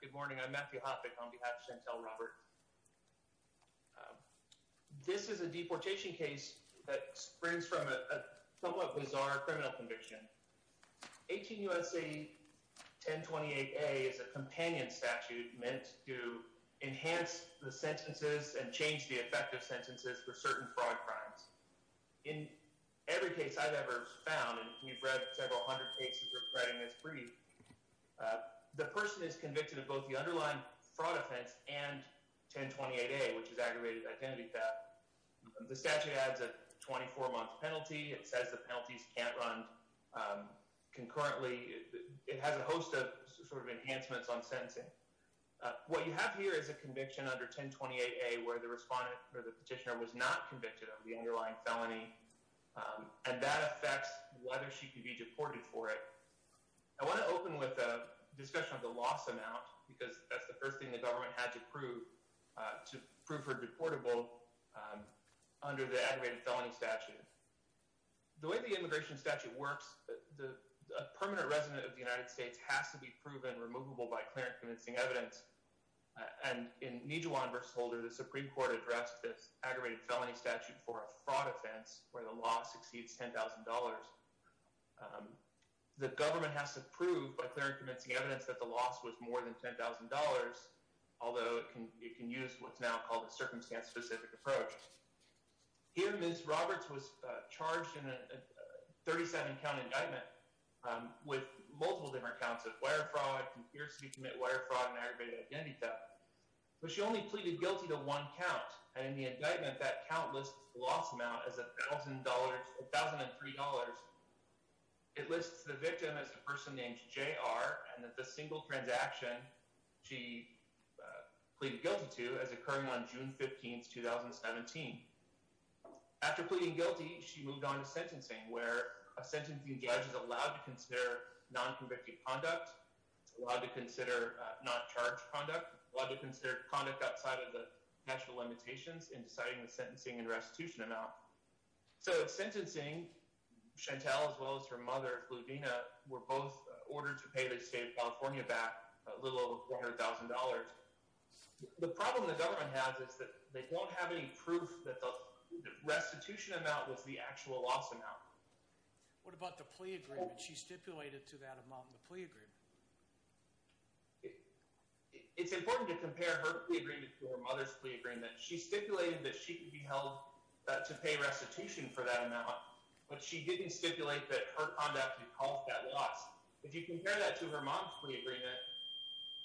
Good morning. I'm Matthew Hoppeck on behalf of Chantelle Robert. This is a deportation case that springs from a somewhat bizarre criminal conviction. 18 U.S.A. 1028a is a sense and change the effect of sentences for certain fraud crimes. In every case I've ever found, and you've read several hundred cases reciting this brief, the person is convicted of both the underlined fraud offense and 1028a, which is aggravated identity theft. The statute adds a 24-month penalty. It says the penalties can't run concurrently. It has a host of sort of permanent limits on sentencing. What you have here is a conviction under 1028a where the respondent or the petitioner was not convicted of the underlying felony, and that affects whether she can be deported for it. I want to open with a discussion of the loss amount because that's the first thing the government had to prove to prove her deportable under the aggravated felony statute. The way the immigration statute works, a permanent resident of the United States has to be proven removable by clear and convincing evidence, and in Nijewan v. Holder, the Supreme Court addressed this aggravated felony statute for a fraud offense where the loss exceeds $10,000. The government has to prove by clear and convincing evidence that the loss was more than $10,000, although it can use what's now called a circumstance-specific approach. Here, Ms. Roberts was charged in a 37-count indictment with multiple different counts of wire fraud, conspiracy to commit wire fraud, and aggravated identity theft. But she only pleaded guilty to one count, and in the indictment, that count lists the loss amount as $1,003. It lists the victim as a person named J.R. and that the single transaction she pleaded guilty to is occurring on June 15, 2017. After pleading guilty, she moved on to sentencing, where a sentencing judge is allowed to consider non-convicted conduct, allowed to consider not-charged conduct, allowed to consider conduct outside of the national limitations in deciding the sentencing and restitution amount. So in sentencing, Chantel, as well as her mother, Ludina, were both ordered to pay their state of California back a little over $400,000. The problem the government has is that they won't have any proof that the restitution amount was the actual loss amount. What about the plea agreement? She stipulated to that amount in the plea agreement. It's important to compare her plea agreement to her mother's plea agreement. She stipulated that she could be held to pay restitution for that amount, but she didn't stipulate that her conduct had caused that loss. If you compare that to her mom's plea agreement,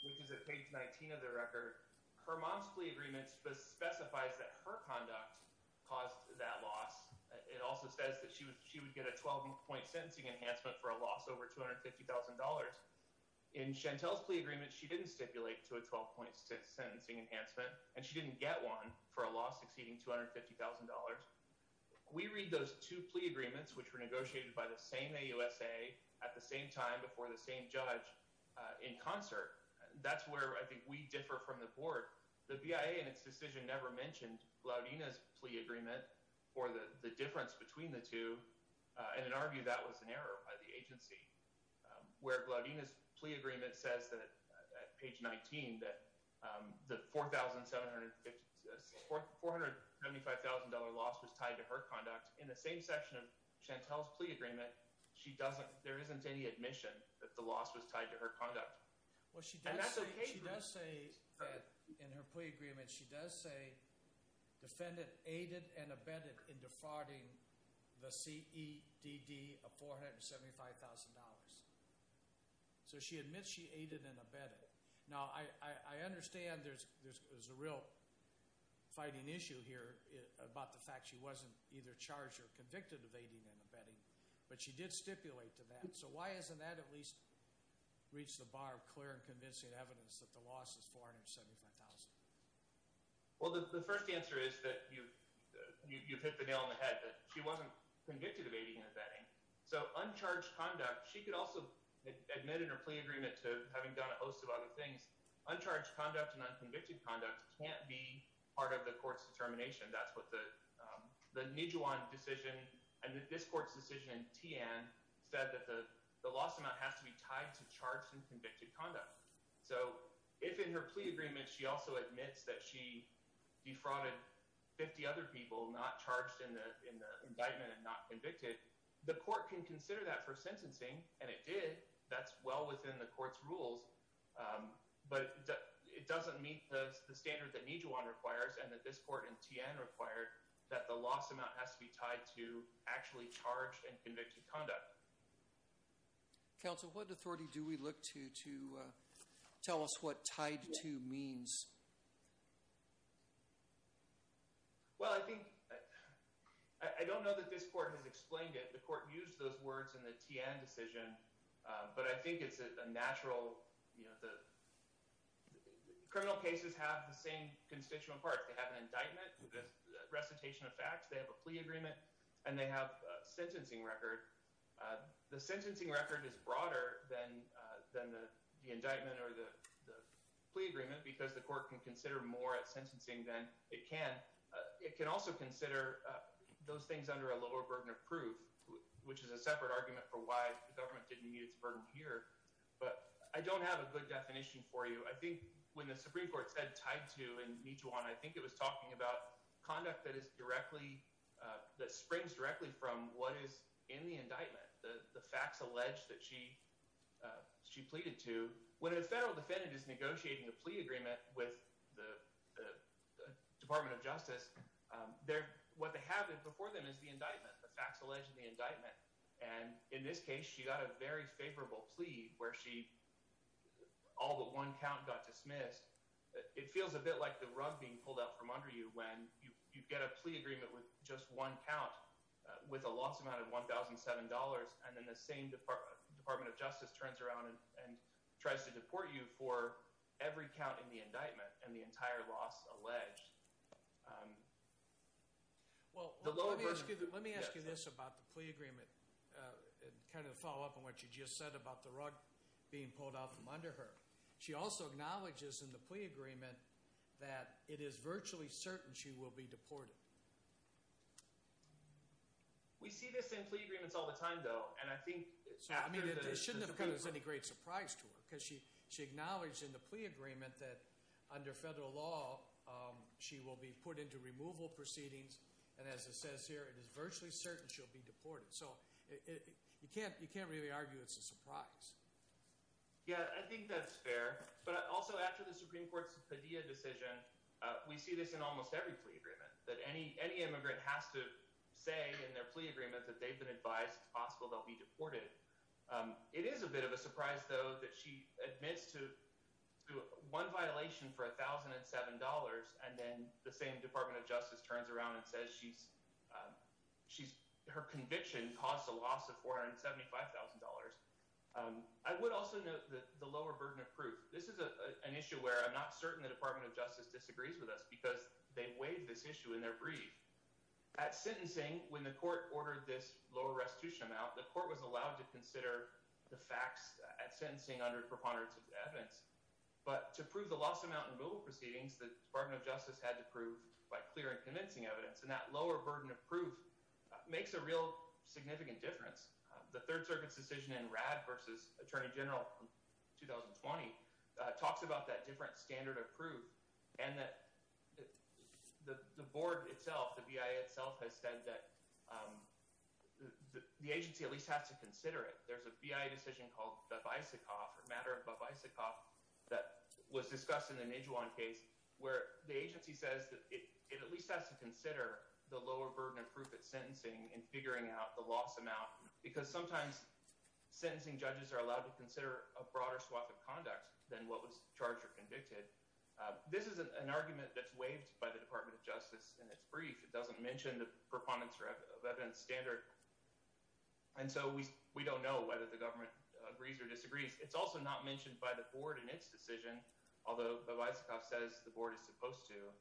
which is at page 19 of the record, her mom's plea agreement specifies that her conduct caused that loss. It also says that she would get a 12-point sentencing enhancement for a loss over $250,000. In Chantel's plea agreement, she didn't stipulate to a 12-point sentencing enhancement, and she didn't get one for a loss exceeding $250,000. We read those two plea agreements, which were negotiated by the same AUSA at the same time before the same judge, in concert. That's where I think we differ from the board. The BIA, in its decision, never mentioned Glaudina's plea agreement or the difference between the two. In our view, that was an error by the agency, where Glaudina's plea agreement says, at page 19, that the $475,000 loss was tied to her conduct. In the same section of Chantel's plea agreement, there isn't any admission that the loss was tied to her conduct. And that's okay for us. She does say in her plea agreement, she does say, defendant aided and abetted in defrauding the CEDD of $475,000. So she admits she aided and abetted. Now, I understand there's a real fighting issue here about the fact she wasn't either charged or convicted of aiding and abetting, but she did stipulate to that. So why hasn't that at least reached the bar of clear and convincing evidence that the loss is $475,000? Well, the first answer is that you've hit the nail on the head. She wasn't convicted of aiding and abetting. So uncharged conduct, she could also admit in her plea agreement to having done a host of other things. Uncharged conduct and unconvicted conduct can't be part of the court's determination. That's what the Nijuan decision and this court's decision, Tian, said that the loss amount has to be tied to charged and convicted conduct. So if in her plea agreement, she also admits that she defrauded 50 other people not charged in the indictment and not convicted, the court can consider that for sentencing. And it did. That's well within the court's rules. But it doesn't meet the standard that Nijuan requires and that this court and Tian required that the loss amount has to be tied to actually charged and convicted conduct. Counsel, what authority do we look to to tell us what tied to means? Well, I think I don't know that this court has explained it. The court used those words in the Tian decision. But I think it's a natural, you know, the criminal cases have the same constituent parts. They have an indictment, recitation of facts. They have a plea agreement and they have a sentencing record. The sentencing record is broader than than the indictment or the plea agreement because the court can consider more at sentencing than it can. It can also consider those things under a lower burden of proof, which is a separate argument for why the government didn't meet its burden here. But I don't have a good definition for you. I think when the Supreme Court said tied to in Nijuan, I think it was talking about conduct that is directly, that springs directly from what is in the indictment, the facts alleged that she pleaded to. When a federal defendant is negotiating a plea agreement with the Department of Justice, what they have before them is the indictment, the facts alleged in the indictment. And in this case, she got a very favorable plea where she all but one count got dismissed. It feels a bit like the rug being pulled out from under you when you get a plea agreement with just one count with a loss amount of $1,007 and then the same Department of Justice turns around and tries to deport you for every count in the indictment and the entire loss alleged. Well, let me ask you this about the plea agreement, kind of follow up on what you just said about the rug being pulled out from under her. She also acknowledges in the plea agreement that it is virtually certain she will be deported. We see this in plea agreements all the time, though. And I think it's true that it's a deployment. It shouldn't have come as any great surprise to her because she acknowledged in the plea agreement that under federal law, she will be put into removal proceedings. And as it says here, it is virtually certain she'll be deported. So you can't really argue it's a surprise. Yeah, I think that's fair. But also after the Supreme Court's Padilla decision, we see this in almost every plea agreement, that any immigrant has to say in their plea agreement that they've been advised it's possible they'll be deported. It is a bit of a surprise, though, that she admits to one violation for $1,007 and then the same Department of Justice turns around and says her conviction caused a loss of $475,000. I would also note the lower burden of proof. This is an issue where I'm not certain the Department of Justice disagrees with us because they waived this issue in their brief. At sentencing, when the court ordered this lower restitution amount, the court was allowed to consider the facts at sentencing under preponderance of evidence. But to prove the loss amount in removal proceedings, the Department of Justice had to prove by clear and convincing evidence. And that lower burden of proof makes a real significant difference. The Third Circuit's decision in RAD v. Attorney General 2020 talks about that different standard of proof and that the board itself, the BIA itself, has said that the agency at least has to consider it. There's a BIA decision called Babaisikov, or Matter of Babaisikov, that was discussed in the Nijuan case where the agency says that it at least has to consider the lower burden of proof at sentencing in figuring out the loss amount because sometimes sentencing judges are allowed to consider a broader swath of conduct than what was charged or convicted. This is an argument that's waived by the Department of Justice in its brief. It doesn't mention the preponderance of evidence standard. And so we don't know whether the government agrees or disagrees. It's also not mentioned by the board in its decision, although Babaisikov says the board is supposed to.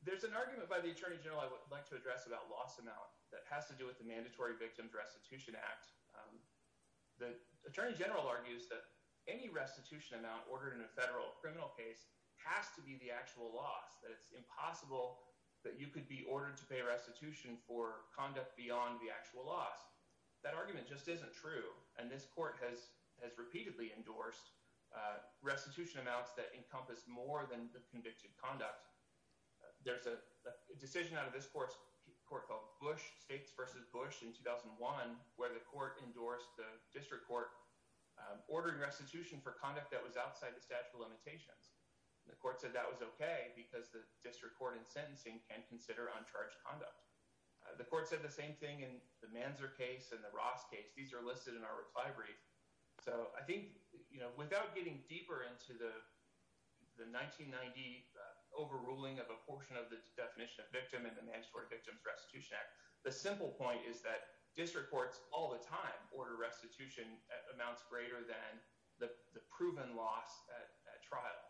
There's an argument by the Attorney General I would like to address about loss amount that has to do with the Mandatory Victims Restitution Act. The Attorney General argues that any restitution amount ordered in a federal criminal case has to be the actual loss, that it's impossible that you could be ordered to pay restitution for conduct beyond the actual loss. That argument just isn't true, and this court has repeatedly endorsed restitution amounts that encompass more than the convicted conduct. There's a decision out of this court, a court called Bush, States v. Bush in 2001, where the court endorsed the district court ordering restitution for conduct that was outside the statute of limitations. The court said that was okay because the district court in sentencing can consider uncharged conduct. The court said the same thing in the Manzer case and the Ross case. These are listed in our reply brief. So I think, you know, without getting deeper into the 1990 overruling of a portion of the definition of victim in the Mandatory Victims Restitution Act, the simple point is that district courts all the time order restitution amounts greater than the proven loss at trial.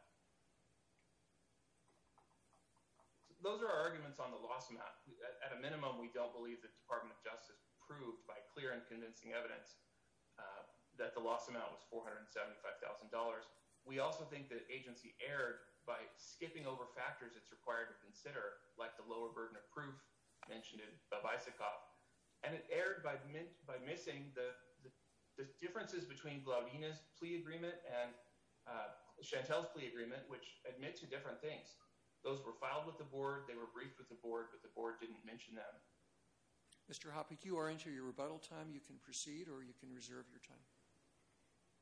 Those are our arguments on the loss amount. At a minimum, we don't believe the Department of Justice proved by clear and convincing evidence that the loss amount was $475,000. We also think the agency erred by skipping over factors it's required to consider, like the lower burden of proof mentioned in Bevisikov. And it erred by missing the differences between Glowina's plea agreement and Chantel's plea agreement, which admit to different things. Those were filed with the board. They were briefed with the board, but the board didn't mention them. Mr. Hoppe, you are into your rebuttal time. You can proceed or you can reserve your time.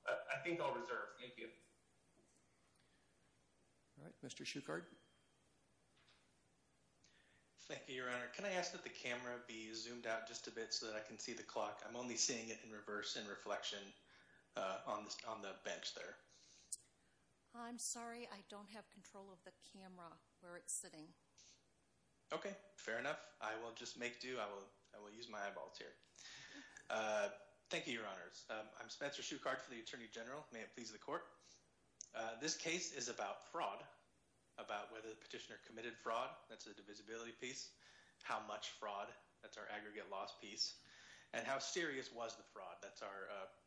I think I'll reserve. Thank you. All right. Mr. Shuchard. Thank you, Your Honor. Can I ask that the camera be zoomed out just a bit so that I can see the clock? I'm only seeing it in reverse in reflection on the bench there. I'm sorry. I don't have control of the camera where it's sitting. Okay. Fair enough. I will just make do. I will use my eyeballs here. Thank you, Your Honors. I'm Spencer Shuchard for the Attorney General. May it please the court. This case is about fraud, about whether the petitioner committed fraud. That's the divisibility piece. How much fraud. That's our aggregate loss piece. And how serious was the fraud. That's our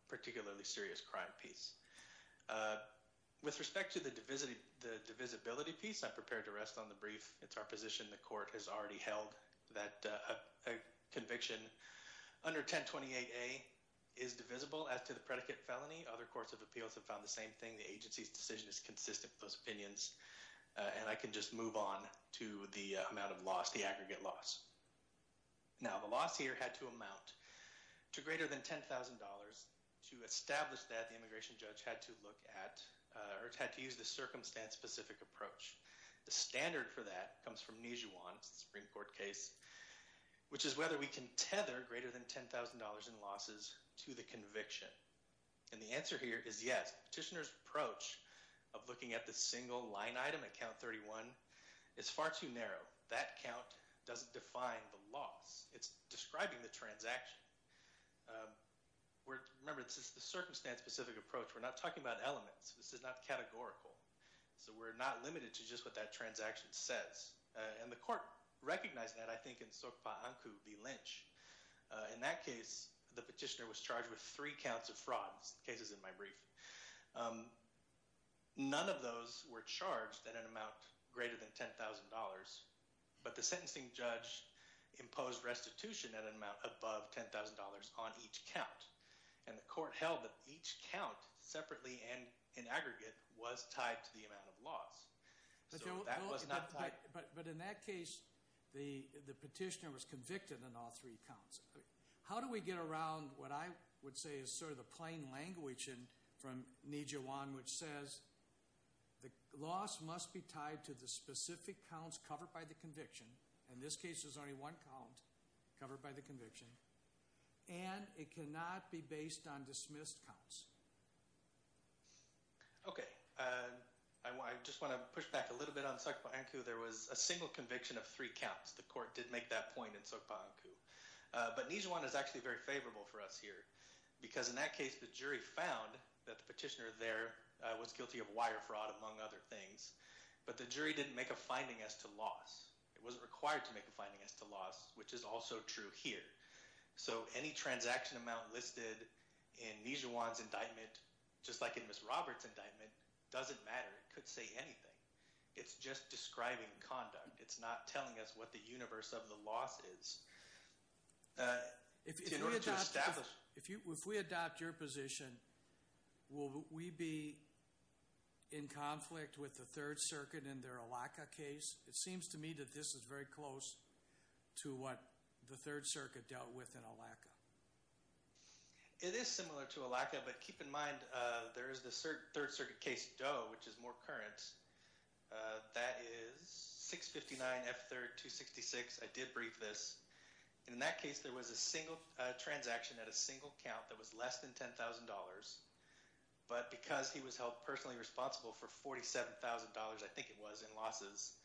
particularly serious crime piece. With respect to the divisibility piece, I'm prepared to rest on the brief. It's our position the court has already held that a conviction under 1028A is divisible as to the predicate felony. Other courts of appeals have found the same thing. The agency's decision is consistent with those opinions. And I can just move on to the amount of loss, the aggregate loss. Now, the loss here had to amount to greater than $10,000. To establish that, the immigration judge had to look at or had to use the circumstance-specific approach. The standard for that comes from Nijuan, the Supreme Court case, which is whether we can tether greater than $10,000 in losses to the conviction. And the answer here is yes. The petitioner's approach of looking at the single line item at count 31 is far too narrow. That count doesn't define the loss. It's describing the transaction. Remember, this is the circumstance-specific approach. We're not talking about elements. This is not categorical. So we're not limited to just what that transaction says. And the court recognized that, I think, in Sokpa Anku v. Lynch. In that case, the petitioner was charged with three counts of fraud. This case is in my brief. None of those were charged at an amount greater than $10,000. But the sentencing judge imposed restitution at an amount above $10,000 on each count. And the court held that each count separately and in aggregate was tied to the amount of loss. So that was not tied. But in that case, the petitioner was convicted on all three counts. How do we get around what I would say is sort of the plain language from Nijihwan, which says, the loss must be tied to the specific counts covered by the conviction. In this case, there's only one count covered by the conviction. And it cannot be based on dismissed counts. Okay. I just want to push back a little bit on Sokpa Anku. There was a single conviction of three counts. The court did make that point in Sokpa Anku. But Nijihwan is actually very favorable for us here. Because in that case, the jury found that the petitioner there was guilty of wire fraud, among other things. But the jury didn't make a finding as to loss. It wasn't required to make a finding as to loss, which is also true here. So any transaction amount listed in Nijihwan's indictment, just like in Ms. Roberts' indictment, doesn't matter. It could say anything. It's just describing conduct. It's not telling us what the universe of the loss is. If we adopt your position, will we be in conflict with the Third Circuit in their Allaka case? It seems to me that this is very close to what the Third Circuit dealt with in Allaka. It is similar to Allaka. But keep in mind, there is the Third Circuit case Doe, which is more current. That is 659 F3rd 266. I did brief this. In that case, there was a single transaction at a single count that was less than $10,000. But because he was held personally responsible for $47,000, I think it was, in losses,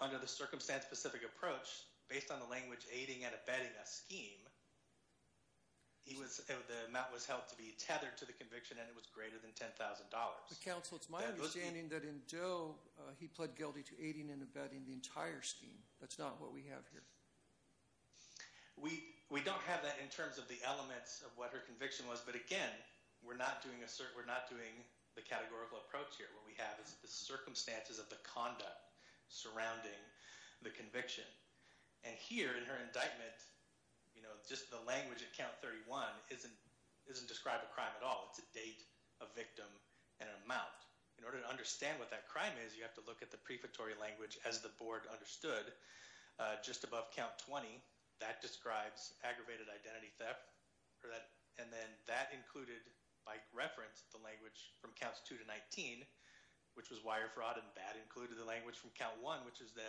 under the circumstance-specific approach, based on the language aiding and abetting a scheme, the amount was held to be tethered to the conviction, and it was greater than $10,000. But, counsel, it's my understanding that in Doe, he pled guilty to aiding and abetting the entire scheme. That's not what we have here. We don't have that in terms of the elements of what her conviction was, but, again, we're not doing the categorical approach here. What we have is the circumstances of the conduct surrounding the conviction. And here, in her indictment, just the language at count 31 doesn't describe a crime at all. It's a date, a victim, and an amount. In order to understand what that crime is, you have to look at the prefatory language, as the board understood, just above count 20. That describes aggravated identity theft. And then that included, by reference, the language from counts 2 to 19, which was wire fraud and bad, included the language from count 1, which is the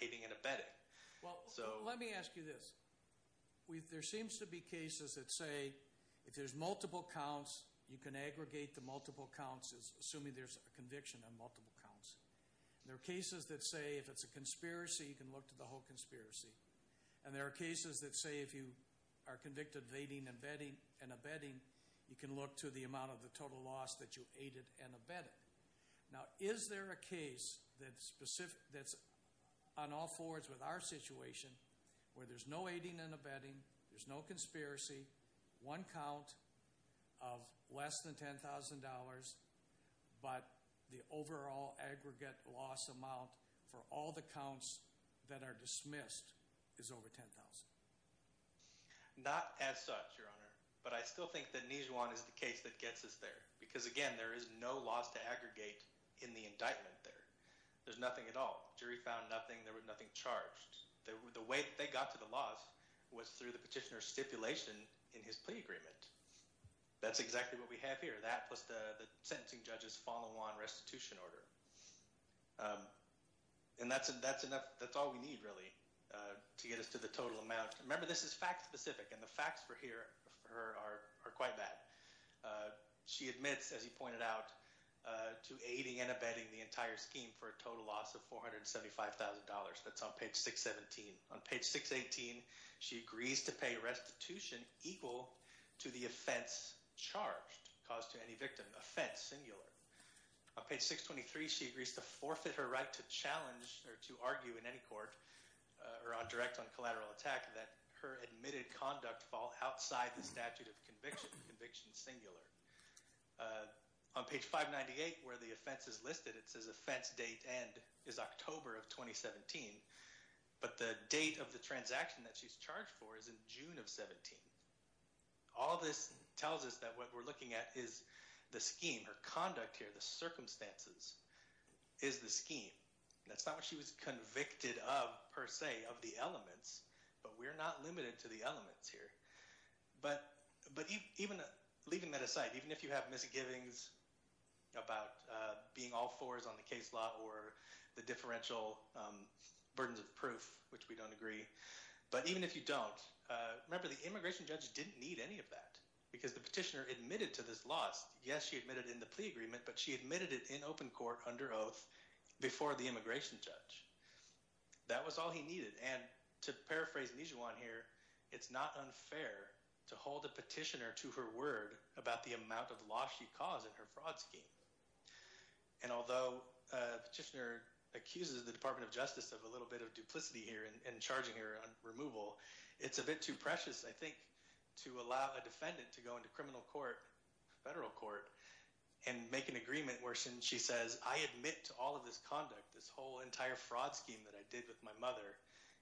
aiding and abetting. Well, let me ask you this. There seems to be cases that say if there's multiple counts, you can aggregate the multiple counts, assuming there's a conviction on multiple counts. There are cases that say if it's a conspiracy, you can look to the whole conspiracy. And there are cases that say if you are convicted of aiding and abetting, you can look to the amount of the total loss that you aided and abetted. Now, is there a case that's on all fours with our situation, where there's no aiding and abetting, there's no conspiracy, one count of less than $10,000, but the overall aggregate loss amount for all the counts that are dismissed is over $10,000? Not as such, Your Honor. But I still think that Nijuan is the case that gets us there. Because, again, there is no loss to aggregate in the indictment there. There's nothing at all. The jury found nothing. There was nothing charged. The way that they got to the loss was through the petitioner's stipulation in his plea agreement. That's exactly what we have here. That plus the sentencing judge's follow-on restitution order. And that's all we need, really, to get us to the total amount. Remember, this is fact-specific, and the facts for her are quite bad. She admits, as he pointed out, to aiding and abetting the entire scheme for a total loss of $475,000. That's on page 617. On page 618, she agrees to pay restitution equal to the offense charged, caused to any victim, offense singular. On page 623, she agrees to forfeit her right to challenge or to argue in any court or direct on collateral attack that her admitted conduct fall outside the statute of conviction, conviction singular. On page 598, where the offense is listed, it says offense date end is October of 2017, but the date of the transaction that she's charged for is in June of 17. All this tells us that what we're looking at is the scheme, her conduct here, the circumstances is the scheme. That's not what she was convicted of, per se, of the elements, but we're not limited to the elements here. Leaving that aside, even if you have misgivings about being all fours on the case law or the differential burdens of proof, which we don't agree, but even if you don't, remember the immigration judge didn't need any of that because the petitioner admitted to this loss. Yes, she admitted in the plea agreement, but she admitted it in open court under oath before the immigration judge. That was all he needed. To paraphrase Nijewan here, it's not unfair to hold a petitioner to her word about the amount of loss she caused in her fraud scheme. Although a petitioner accuses the Department of Justice of a little bit of duplicity here in charging her on removal, it's a bit too precious, I think, to allow a defendant to go into criminal court, federal court, and make an agreement where she says, I admit to all of this conduct, this whole entire fraud scheme that I did with my mother,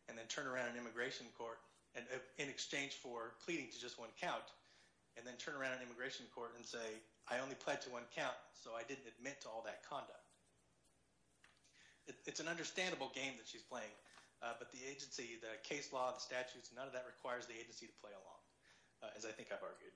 and then turn around in immigration court in exchange for pleading to just one count, and then turn around in immigration court and say, I only pled to one count, so I didn't admit to all that conduct. It's an understandable game that she's playing, but the agency, the case law, the statutes, none of that requires the agency to play along, as I think I've argued.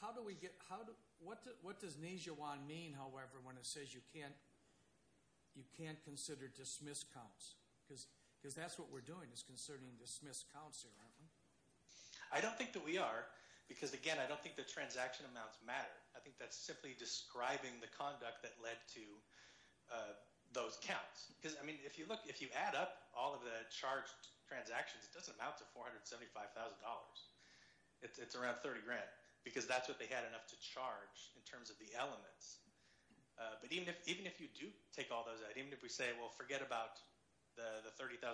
How do we get – what does Nijewan mean, however, when it says you can't consider dismissed counts? Because that's what we're doing is considering dismissed counts here, aren't we? I don't think that we are because, again, I don't think the transaction amounts matter. I think that's simply describing the conduct that led to those counts. Because, I mean, if you look, if you add up all of the charged transactions, it doesn't amount to $475,000. It's around 30 grand because that's what they had enough to charge in terms of the elements. But even if you do take all those out, even if we say, well, forget about the $30,000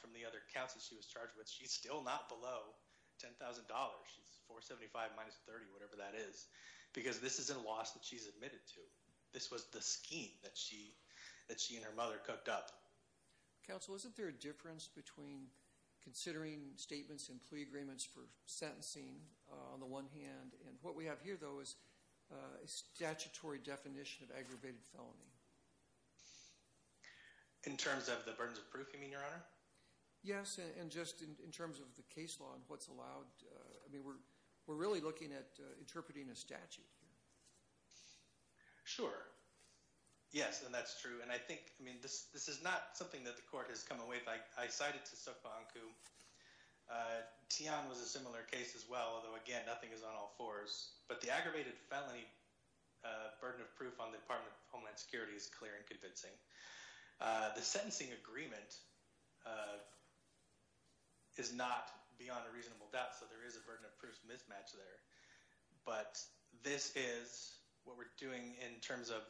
from the other counts that she was charged with, she's still not below $10,000. She's 475 minus 30, whatever that is, because this isn't a loss that she's admitted to. This was the scheme that she and her mother cooked up. Counsel, isn't there a difference between considering statements and plea agreements for sentencing on the one hand and what we have here, though, is a statutory definition of aggravated felony? In terms of the burdens of proof, you mean, Your Honor? Yes, and just in terms of the case law and what's allowed. I mean, we're really looking at interpreting a statute here. Sure. Yes, and that's true. And I think, I mean, this is not something that the court has come away with. I cited to Suk Bahanku. Tian was a similar case as well, although, again, nothing is on all fours. But the aggravated felony burden of proof on the Department of Homeland Security is clear and convincing. The sentencing agreement is not beyond a reasonable doubt, so there is a burden of proof mismatch there. But this is what we're doing in terms of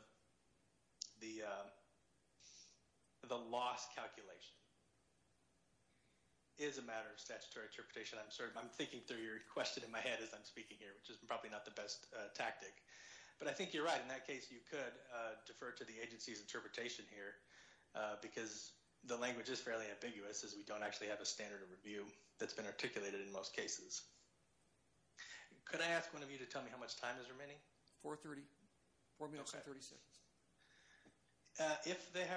the loss calculation. It is a matter of statutory interpretation. I'm thinking through your question in my head as I'm speaking here, which is probably not the best tactic. But I think you're right. In that case, you could defer to the agency's interpretation here because the language is fairly ambiguous, as we don't actually have a standard of review that's been articulated in most cases. Could I ask one of you to tell me how much time is remaining? 4 minutes and 36 seconds. If there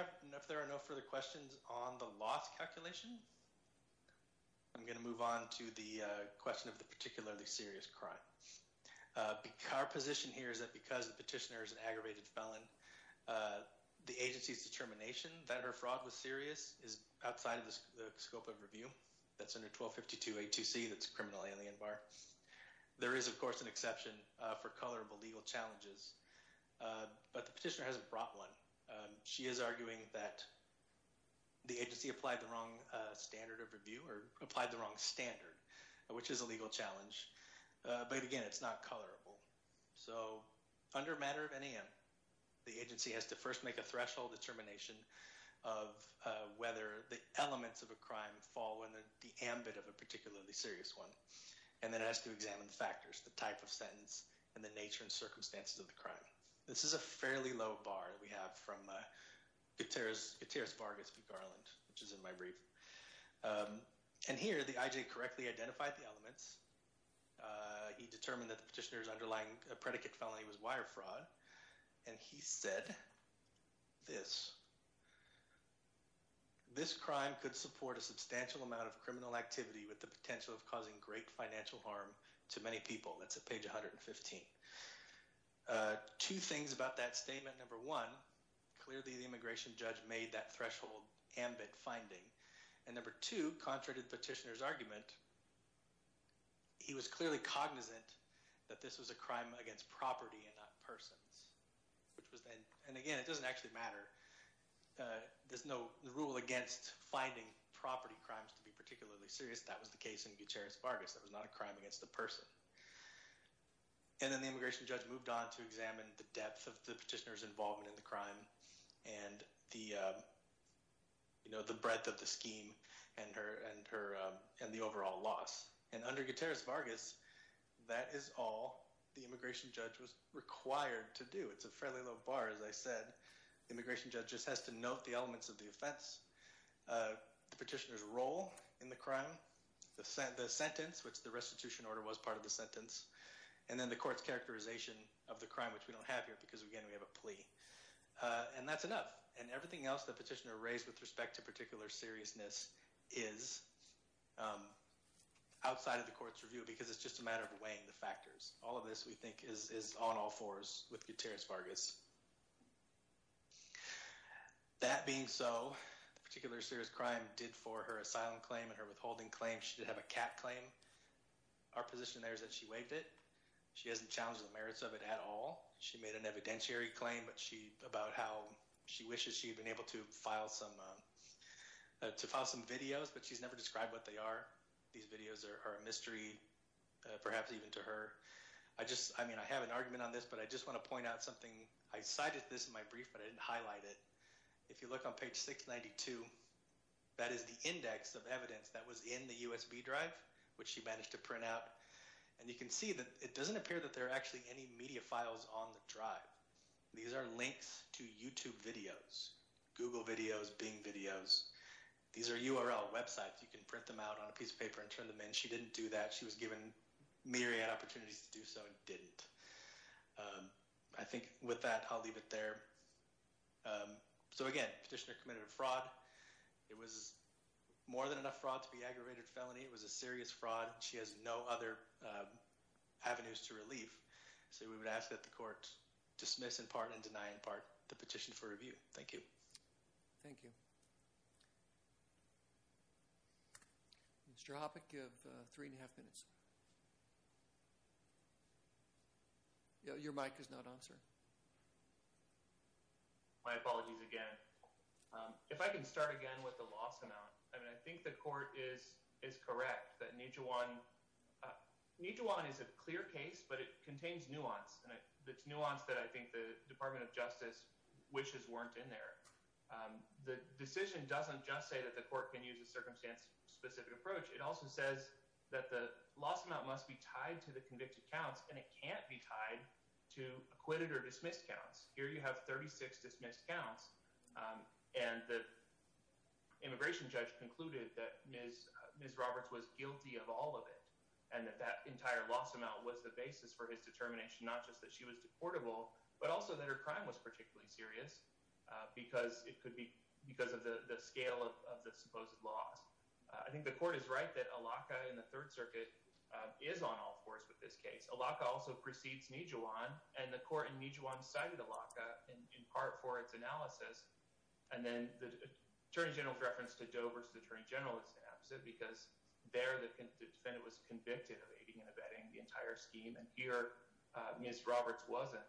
are no further questions on the loss calculation, I'm going to move on to the question of the particularly serious crime. Our position here is that because the petitioner is an aggravated felon, the agency's determination that her fraud was serious is outside the scope of review. That's under 1252A2C. That's a criminal alien bar. There is, of course, an exception for colorable legal challenges. But the petitioner hasn't brought one. She is arguing that the agency applied the wrong standard of review or applied the wrong standard, which is a legal challenge. But, again, it's not colorable. So under a matter of NAM, the agency has to first make a threshold determination of whether the elements of a crime fall within the ambit of a particularly serious one, and then it has to examine the factors, the type of sentence, and the nature and circumstances of the crime. This is a fairly low bar that we have from Gutierrez Vargas v. Garland, which is in my brief. And here the IJ correctly identified the elements. He determined that the petitioner's underlying predicate felony was wire fraud, and he said this. This crime could support a substantial amount of criminal activity with the potential of causing great financial harm to many people. That's at page 115. Two things about that statement. Number one, clearly the immigration judge made that threshold ambit finding. And number two, contrary to the petitioner's argument, he was clearly cognizant that this was a crime against property and not persons. And, again, it doesn't actually matter. There's no rule against finding property crimes to be particularly serious. That was the case in Gutierrez Vargas. That was not a crime against a person. And then the immigration judge moved on to examine the depth of the petitioner's involvement in the crime and the breadth of the scheme and the overall loss. And under Gutierrez Vargas, that is all the immigration judge was required to do. It's a fairly low bar, as I said. The immigration judge just has to note the elements of the offense, the petitioner's role in the crime, the sentence, which the restitution order was part of the sentence, and then the court's characterization of the crime, which we don't have here because, again, we have a plea. And that's enough. And everything else the petitioner raised with respect to particular seriousness is outside of the court's review because it's just a matter of weighing the factors. All of this, we think, is on all fours with Gutierrez Vargas. That being so, the particular serious crime did for her asylum claim and her withholding claim. She did have a cat claim. Our position there is that she waived it. She hasn't challenged the merits of it at all. She made an evidentiary claim about how she wishes she had been able to file some videos, but she's never described what they are. These videos are a mystery, perhaps even to her. I have an argument on this, but I just want to point out something. I cited this in my brief, but I didn't highlight it. If you look on page 692, that is the index of evidence that was in the USB drive, which she managed to print out. And you can see that it doesn't appear that there are actually any media files on the drive. These are links to YouTube videos, Google videos, Bing videos. These are URL websites. You can print them out on a piece of paper and turn them in. She didn't do that. She was given myriad opportunities to do so and didn't. I think with that, I'll leave it there. So again, petitioner committed a fraud. It was more than enough fraud to be aggravated felony. It was a serious fraud. She has no other avenues to relief. So we would ask that the court dismiss in part and deny in part the petition for review. Thank you. Thank you. Mr. Hoppe, you have three and a half minutes. Your mic is not on, sir. My apologies again. If I can start again with the loss amount. I mean, I think the court is correct that Nijuan is a clear case, but it contains nuance. And it's nuance that I think the Department of Justice wishes weren't in there. The decision doesn't just say that the court can use a circumstance-specific approach. It also says that the loss amount must be tied to the convicted counts, and it can't be tied to acquitted or dismissed counts. Here you have 36 dismissed counts, and the immigration judge concluded that Ms. Roberts was guilty of all of it and that that entire loss amount was the basis for his determination, not just that she was deportable, but also that her crime was particularly serious because of the scale of the supposed loss. I think the court is right that Allaka in the Third Circuit is on all fours with this case. Allaka also precedes Nijuan, and the court in Nijuan cited Allaka in part for its analysis. And then the attorney general's reference to Doe versus the attorney general is the opposite because there the defendant was convicted of aiding and abetting the entire scheme, and here Ms. Roberts wasn't.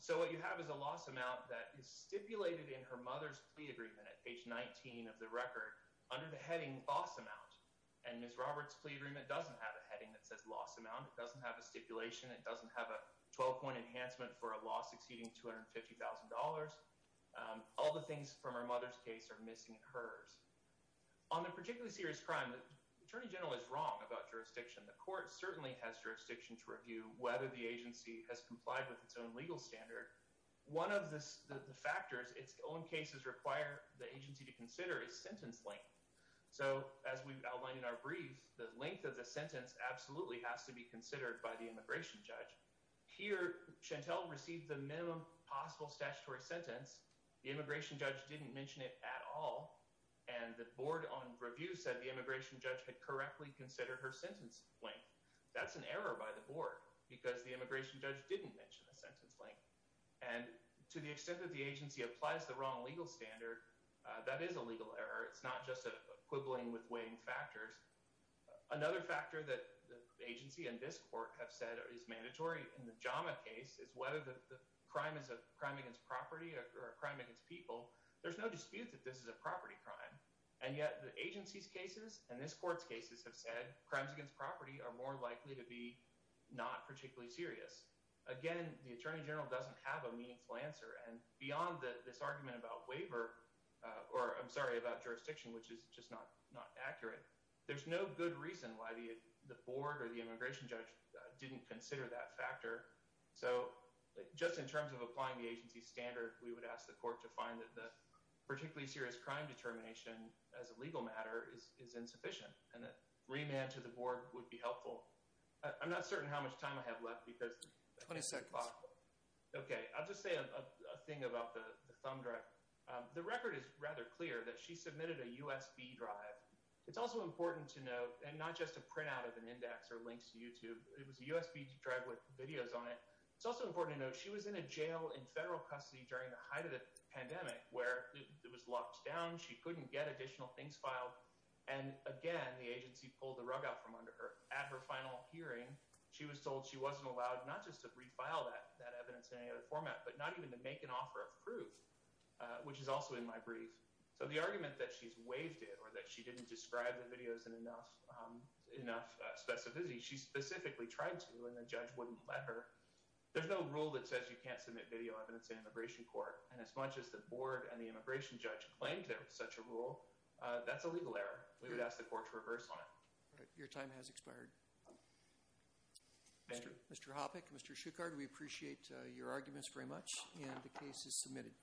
So what you have is a loss amount that is stipulated in her mother's plea agreement at page 19 of the record under the heading loss amount, and Ms. Roberts' plea agreement doesn't have a heading that says loss amount. It doesn't have a stipulation. It doesn't have a 12-point enhancement for a loss exceeding $250,000. All the things from her mother's case are missing in hers. On the particularly serious crime, the attorney general is wrong about jurisdiction. The court certainly has jurisdiction to review whether the agency has complied with its own legal standard. One of the factors its own cases require the agency to consider is sentence length. So as we've outlined in our brief, the length of the sentence absolutely has to be considered by the immigration judge. Here Chantel received the minimum possible statutory sentence. The immigration judge didn't mention it at all, and the board on review said the immigration judge had correctly considered her sentence length. That's an error by the board because the immigration judge didn't mention the sentence length, and to the extent that the agency applies the wrong legal standard, that is a legal error. It's not just a quibbling with weighing factors. Another factor that the agency and this court have said is mandatory in the JAMA case is whether the crime is a crime against property or a crime against people. There's no dispute that this is a property crime, and yet the agency's cases and this court's cases have said crimes against property are more likely to be not particularly serious. Again, the attorney general doesn't have a meaningful answer, and beyond this argument about jurisdiction, which is just not accurate, there's no good reason why the board or the immigration judge didn't consider that factor. So just in terms of applying the agency's standard, we would ask the court to find that the particularly serious crime determination as a legal matter is insufficient, and that remand to the board would be helpful. I'm not certain how much time I have left because— Twenty seconds. Okay, I'll just say a thing about the thumb drive. The record is rather clear that she submitted a USB drive. It's also important to note, and not just a printout of an index or links to YouTube, it was a USB drive with videos on it. It's also important to note she was in a jail in federal custody during the height of the pandemic, where it was locked down, she couldn't get additional things filed, and again, the agency pulled the rug out from under her. At her final hearing, she was told she wasn't allowed not just to refile that evidence in any other format, but not even to make an offer of proof, which is also in my brief. So the argument that she's waived it or that she didn't describe the videos in enough specificity, she specifically tried to, and the judge wouldn't let her, there's no rule that says you can't submit video evidence in immigration court, and as much as the board and the immigration judge claimed there was such a rule, that's a legal error. We would ask the court to reverse on it. Your time has expired. Thank you. Mr. Hoppeck, Mr. Schuchard, we appreciate your arguments very much, and the case is submitted.